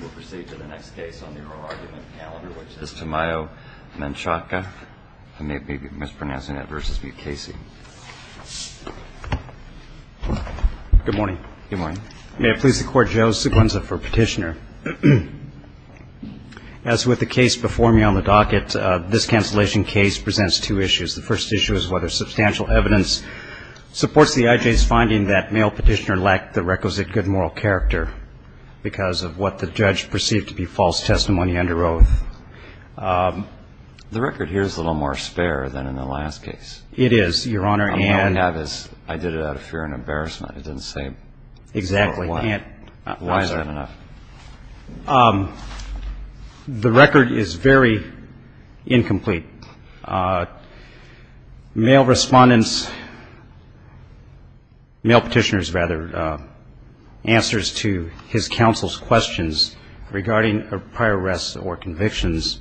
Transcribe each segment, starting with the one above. We'll proceed to the next case on the oral argument calendar, which is Tamayo-Menchaca. I may be mispronouncing it, versus V. Casey. Good morning. Good morning. May it please the Court, Joe Sequenza for Petitioner. As with the case before me on the docket, this cancellation case presents two issues. The first issue is whether substantial evidence supports the I.J.'s finding that male petitioner lacked the requisite good moral character because of what the judge perceived to be false testimony under oath. The record here is a little more spare than in the last case. It is, Your Honor. All I have is I did it out of fear and embarrassment. It didn't say. Exactly. Why is that enough? The record is very incomplete. Male respondents, male petitioners, rather, answers to his counsel's questions regarding prior arrests or convictions.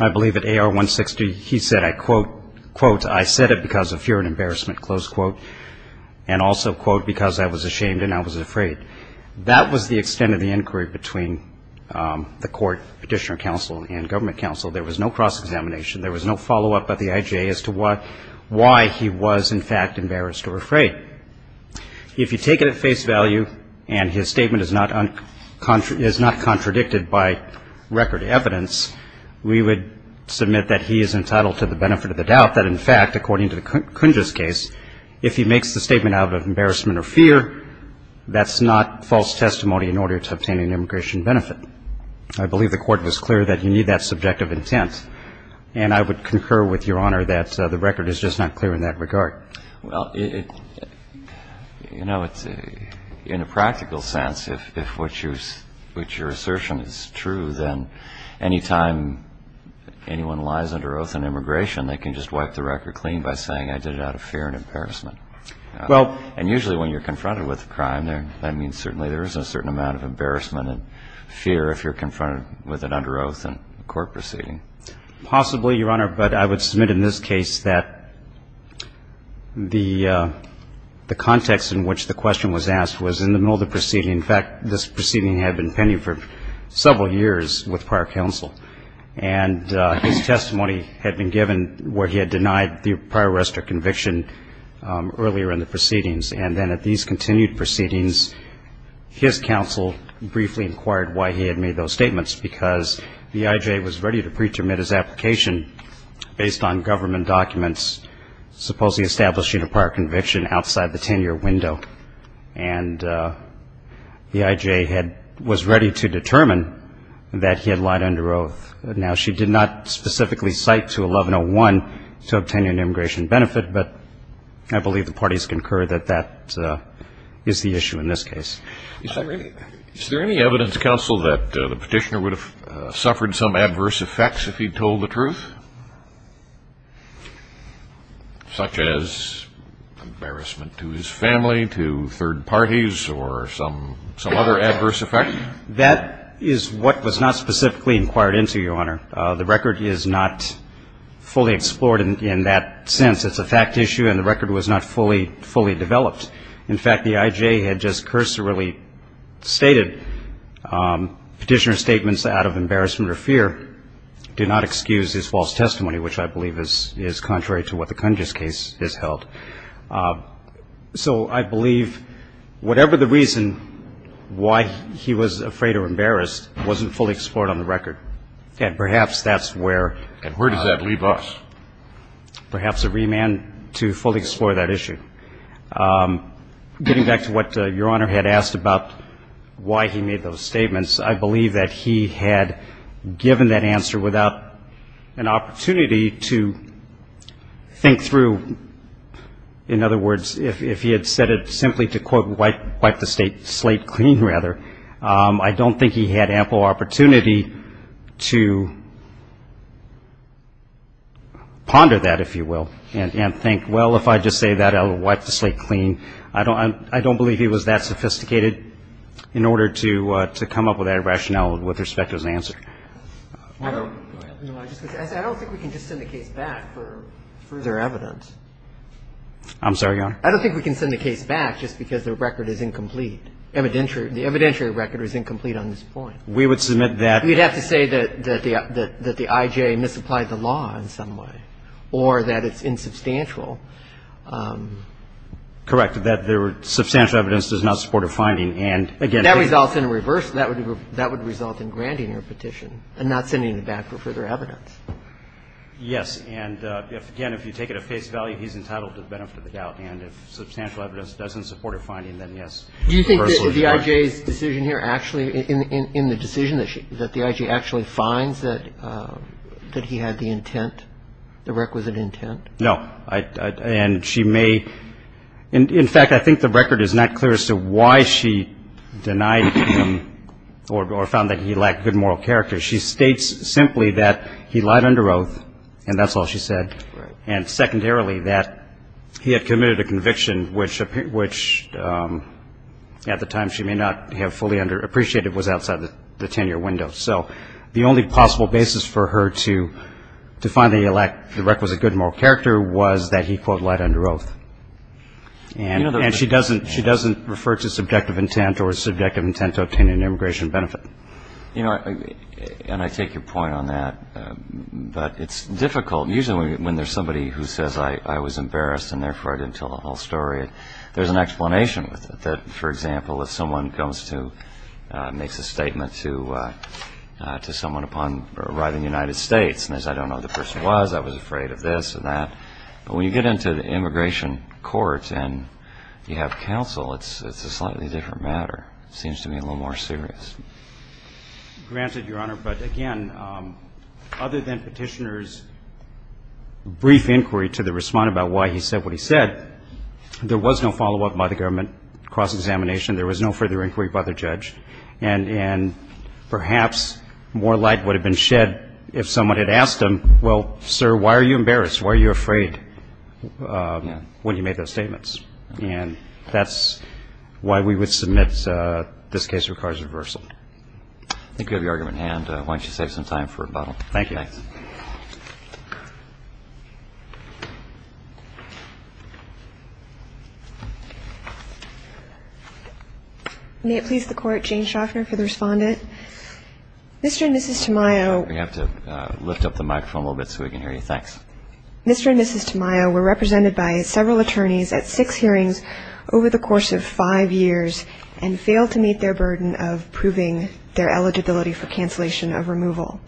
I believe at A.R. 160, he said, I quote, quote, I said it because of fear and embarrassment, close quote, and also, quote, because I was ashamed and I was afraid. That was the extent of the inquiry between the court petitioner counsel and government counsel. There was no cross-examination. There was no follow-up at the I.J. as to why he was, in fact, embarrassed or afraid. If you take it at face value and his statement is not contradicted by record evidence, we would submit that he is entitled to the benefit of the doubt that, in fact, according to the Kunja's case, if he makes the statement out of embarrassment or fear, that's not false testimony in order to obtain an immigration benefit. I believe the court was clear that you need that subjective intent. And I would concur with Your Honor that the record is just not clear in that regard. Well, you know, in a practical sense, if what you're assertion is true, they can just wipe the record clean by saying I did it out of fear and embarrassment. And usually when you're confronted with a crime, that means certainly there is a certain amount of embarrassment and fear if you're confronted with an under oath in a court proceeding. Possibly, Your Honor, but I would submit in this case that the context in which the question was asked was in the middle of the proceeding. In fact, this proceeding had been pending for several years with prior counsel. And his testimony had been given where he had denied the prior arrest or conviction earlier in the proceedings. And then at these continued proceedings, his counsel briefly inquired why he had made those statements, because the I.J. was ready to pretermine his application based on government documents, supposedly establishing a prior conviction outside the 10-year window. And the I.J. was ready to determine that he had lied under oath. Now, she did not specifically cite to 1101 to obtain an immigration benefit, but I believe the parties concur that that is the issue in this case. Is there any evidence, counsel, that the petitioner would have suffered some adverse effects if he told the truth, such as embarrassment to his family, to third parties, or some other adverse effect? That is what was not specifically inquired into, Your Honor. The record is not fully explored in that sense. It's a fact issue, and the record was not fully developed. In fact, the I.J. had just cursorily stated petitioner's statements out of embarrassment or fear do not excuse his false allegation. It's not a false allegation. It's a false testimony, which I believe is contrary to what the Kundge's case has held. So I believe whatever the reason why he was afraid or embarrassed wasn't fully explored on the record. And perhaps that's where... And where does that leave us? Perhaps a remand to fully explore that issue. Getting back to what Your Honor had asked about why he made those statements, I believe that he had given that answer without an opportunity to think through, in other words, if he had said it simply to, quote, wipe the slate clean, rather, I don't think he had ample opportunity to ponder that, if you will, and think, well, if I just say that, I'll wipe the slate clean. I don't believe he was that sophisticated in order to come up with that rationale with respect to his answer. I don't think we can just send the case back for further evidence. I'm sorry, Your Honor? I don't think we can send the case back just because the record is incomplete. The evidentiary record is incomplete on this point. We would submit that... You'd have to say that the I.J. misapplied the law in some way or that it's insubstantial. Correct, that substantial evidence does not support a finding, and again... If that results in a reverse, that would result in granting your petition and not sending it back for further evidence. Yes, and again, if you take it at face value, he's entitled to the benefit of the doubt. And if substantial evidence doesn't support a finding, then, yes... Do you think that the I.J.'s decision here actually, in the decision, that the I.J. actually finds that he had the intent, the requisite intent? No, and she may... In fact, I think the record is not clear as to why she denied him or found that he lacked good moral character. She states simply that he lied under oath, and that's all she said, and secondarily that he had committed a conviction which, at the time, she may not have fully appreciated was outside the tenure window. So the only possible basis for her to find that he lacked the requisite good moral character was that he, quote, lied under oath. And she doesn't refer to subjective intent or subjective intent to obtain an immigration benefit. You know, and I take your point on that, but it's difficult. Usually when there's somebody who says, I was embarrassed and therefore I didn't tell the whole story, there's an explanation with it, that, for example, if someone goes to... makes a statement to someone upon arriving in the United States and says, I don't know who the person was, I was afraid of this and that, but when you get into the immigration courts and you have counsel, it's a slightly different matter. It seems to be a little more serious. Granted, Your Honor, but again, other than Petitioner's brief inquiry to the respondent about why he said what he said, there was no follow-up by the government cross-examination. There was no further inquiry by the judge. And perhaps more light would have been shed if someone had asked him, well, sir, why are you embarrassed? Why are you afraid when you made those statements? And that's why we would submit this case requires reversal. I think we have your argument in hand. Why don't you save some time for rebuttal? Thank you. Thanks. May it please the Court, Jane Schaffner for the respondent. Mr. and Mrs. Tamayo... We have to lift up the microphone a little bit so we can hear you. Thanks. Mr. and Mrs. Tamayo were represented by several attorneys at six hearings over the course of five years and failed to meet their burden of proving their eligibility for cancellation of removal.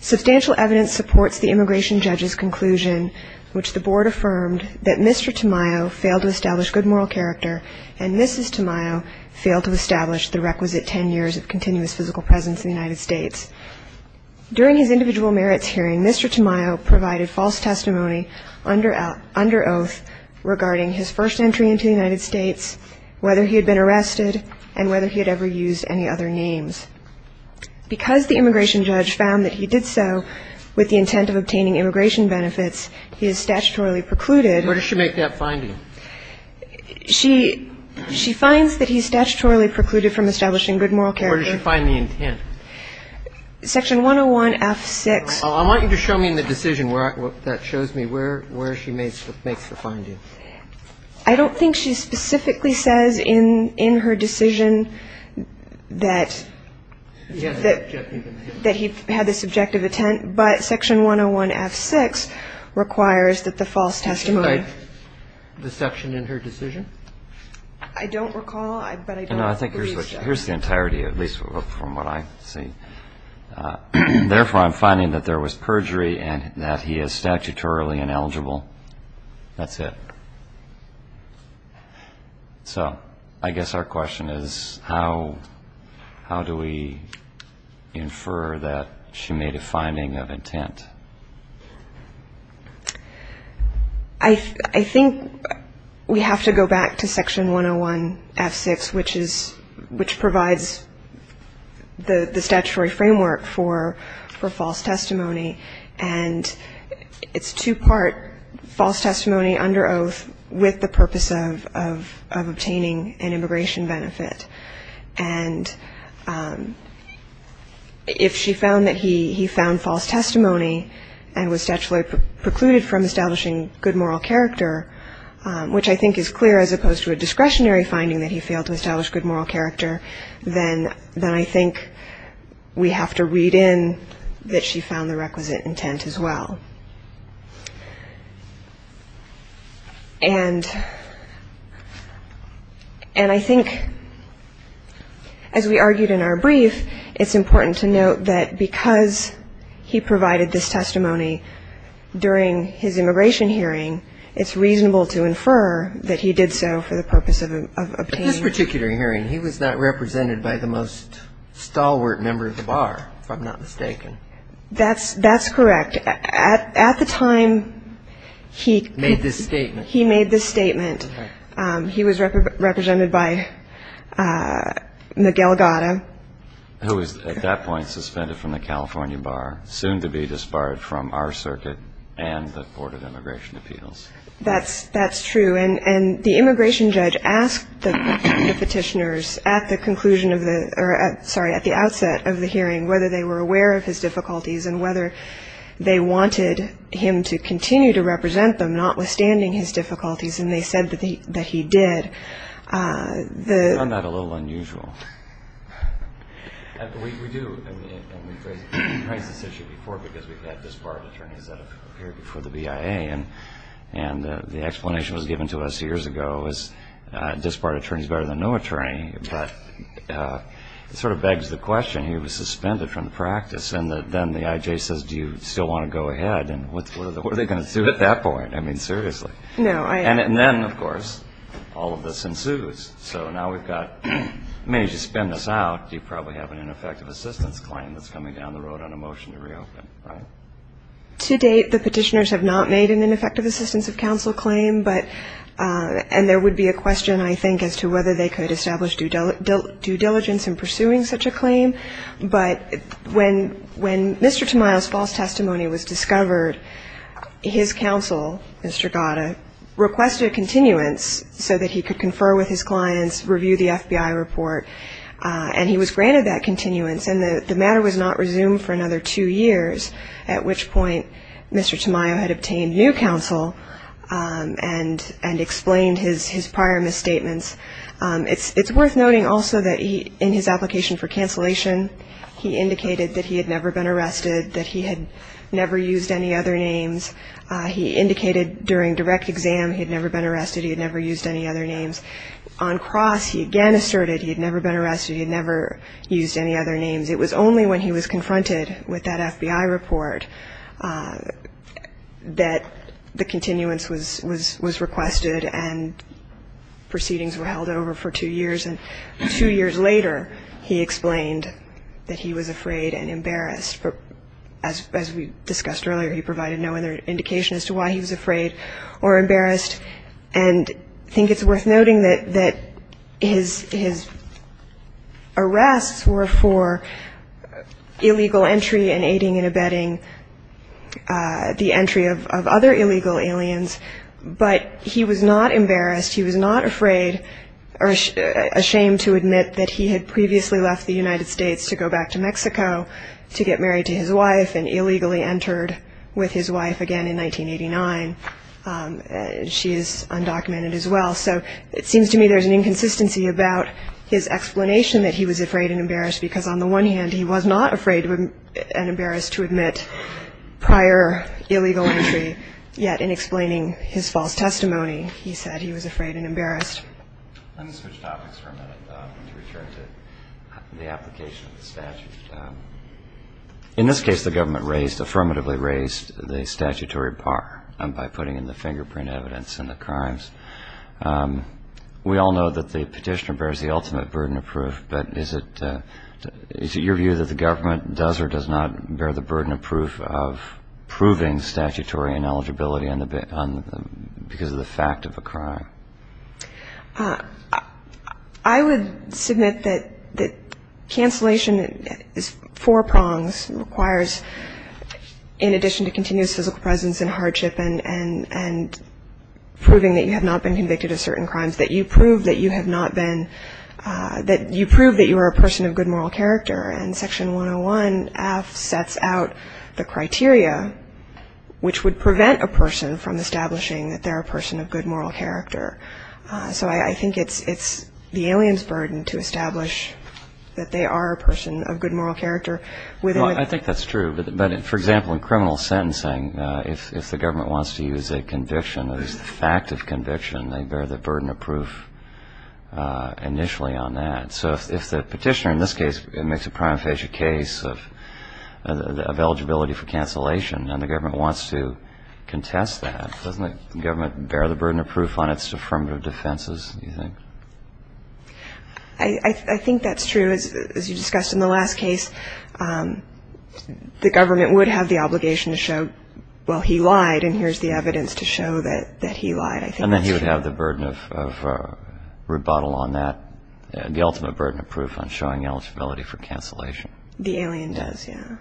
And that's the immigration judge's conclusion, which the board affirmed that Mr. Tamayo failed to establish good moral character and Mrs. Tamayo failed to establish the requisite ten years of continuous physical presence in the United States. During his individual merits hearing, Mr. Tamayo provided false testimony under oath regarding his first entry into the United States, whether he had been arrested, and whether he had ever used any other names. Because the immigration judge found that he did so with the intent of obtaining immigration benefits, he is statutorily precluded. Where does she make that finding? She finds that he's statutorily precluded from establishing good moral character. Where does she find the intent? Section 101F6. I want you to show me in the decision where that shows me where she makes the finding. I don't think she specifically says in her decision that he had this objective intent, but Section 101F6 requires that the false testimony. The section in her decision? I don't recall, but I don't believe so. Here's the entirety, at least from what I see. Therefore, I'm finding that there was perjury and that he is statutorily ineligible. That's it. So I guess our question is, how do we infer that she made a finding of intent? I think we have to go back to Section 101F6, which provides the statutory framework for false testimony. And it's two-part false testimony under oath with the purpose of obtaining an immigration benefit. And if she found that he found false testimony and was statutorily precluded from establishing good moral character, which I think is clear as opposed to a discretionary finding that he failed to establish good moral character, then I think we have to read in that she found the requisite intent as well. And I think, as we argued in our brief, it's important to note that because he provided this testimony during his immigration hearing, it's reasonable to infer that he did so for the purpose of obtaining... He was represented by the most stalwart member of the bar, if I'm not mistaken. That's correct. At the time he... Made this statement. He made this statement. He was represented by Miguel Gata... Who was, at that point, suspended from the California bar, soon to be disbarred from our circuit and the Court of Immigration Appeals. That's true. And the immigration judge asked the petitioners at the conclusion of the... Sorry, at the outset of the hearing, whether they were aware of his difficulties and whether they wanted him to continue to represent them notwithstanding his difficulties. And they said that he did. Isn't that a little unusual? We do. And we've raised this issue before because we've had disbarred attorneys that have appeared before the BIA. And the explanation was given to us years ago is disbarred attorneys are better than no attorney. But it sort of begs the question, he was suspended from the practice and then the IJ says, do you still want to go ahead? What are they going to do at that point? I mean, seriously. And then, of course, all of this ensues. So now we've got... I mean, as you spin this out, you probably have an ineffective assistance claim that's coming down the road on a motion to reopen, right? To date, the petitioners have not made an ineffective assistance of counsel claim. And there would be a question, I think, as to whether they could establish due diligence in pursuing such a claim. But when Mr. Tamayo's false testimony was discovered, his counsel, Mr. Gata, requested a continuance so that he could confer with his clients, review the FBI report. And he was granted that continuance. And the matter was not resumed for another two years, at which point Mr. Tamayo had obtained new counsel and explained his prior misstatements. It's worth noting also that he, in his application for cancellation, he indicated that he had never been arrested, that he had never used any other names. He indicated during direct exam he had never been arrested, he had never used any other names. On cross, he again asserted he had never been arrested, he had never used any other names. It was only when he was confronted with that FBI report that the continuance was requested and proceedings were held over for two years. And two years later, he explained that he was afraid and embarrassed. As we discussed earlier, he provided no other indication as to why he was afraid or embarrassed. And I think it's worth noting that his arrests were for illegal entry and aiding and abetting the entry of other illegal aliens. But he was not embarrassed, he was not afraid or ashamed to admit that he had previously left the United States to go back to Mexico to get married to his wife and illegally entered with his wife again in 1989. She is undocumented as well. So it seems to me there is an inconsistency about his explanation that he was afraid and embarrassed because on the one hand he was not afraid and embarrassed to admit prior illegal entry. Yet in explaining his false testimony, he said he was afraid and embarrassed. Let me switch topics for a minute to return to the application of the statute. In this case, the government raised, affirmatively raised the statutory bar by putting in the fingerprint evidence in the crimes. We all know that the petitioner bears the ultimate burden of proof, but is it your view that the government does or does not bear the burden of proof of proving statutory ineligibility because of the fact of a crime? I would submit that cancellation is four prongs, requires in addition to continuous physical presence and hardship and proving that you have not been convicted of certain crimes that you prove that you have not been, that you prove that you are a person of good moral character. And section 101F sets out the criteria which would prevent a person from establishing that they are a person of good moral character. So I think it's the alien's burden to establish that they are a person of good moral character. I think that's true, but for example in criminal sentencing if the government wants to use a conviction a fact of conviction they bear the burden of proof initially on that. So if the petitioner in this case makes a prima facie case of eligibility for cancellation and the government wants to contest that doesn't the government bear the burden of proof on its affirmative defenses, you think? I think that's true. As you discussed in the last case the government would have the obligation to show well he lied and here's the evidence to show that he lied. And then he would have the burden of rebuttal on that the ultimate burden of proof on showing eligibility for cancellation. The alien does, yeah.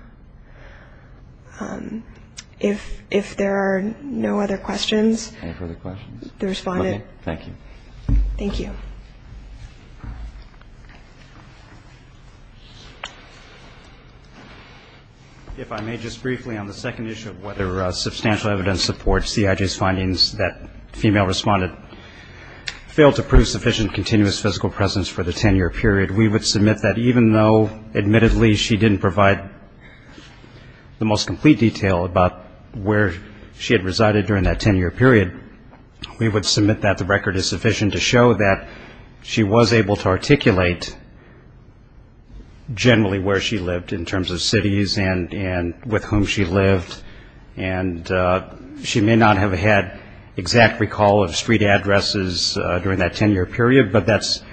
If there are no other questions Any further questions? The respondent Thank you. Thank you. If I may just briefly on the second issue whether substantial evidence supports CIG's findings that the female respondent failed to prove sufficient continuous physical presence for the ten year period we would submit that even though admittedly she didn't provide the most complete detail about where she had resided during that ten year period we would submit that the record is sufficient to show that she was able to articulate generally where she lived in terms of cities and with whom she lived and she may not have had exact recall of street addresses during that ten year period but that's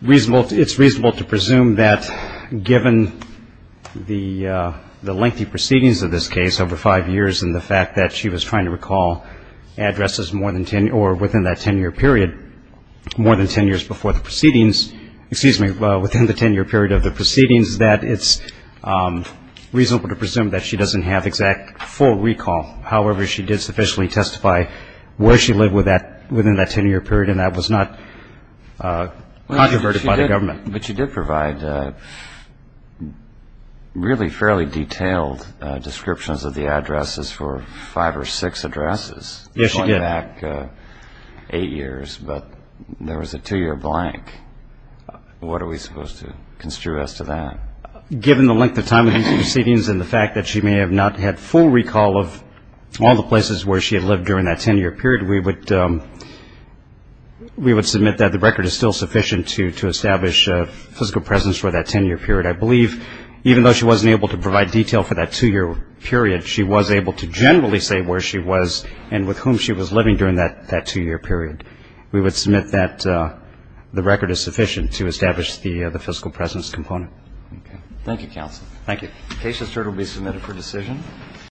reasonable it's reasonable to presume that given the the lengthy proceedings of this case over five years and the fact that she was trying to recall addresses more than ten or within that ten year period more than ten years before the proceedings excuse me within the ten year period of the proceedings that it's reasonable to presume that she doesn't have exact full recall however she did sufficiently testify where she lived within that ten year period and that was not controverted by the government but you did provide really fairly detailed descriptions of the addresses for five or six addresses going back eight years but there was a two year blank what are we supposed to construe as to that given the length of time of these proceedings and the fact that she may have not had full recall of all the places where she had lived during that ten year period we would we would submit that the record is still sufficient to establish physical presence for that ten year period I believe even though she wasn't able to provide detail for that two year period she was able to generally say where she was and with whom she was living during that two year period we would submit that the record is sufficient to establish the Thank you Counsel Thank you The case is heard and will be submitted for decision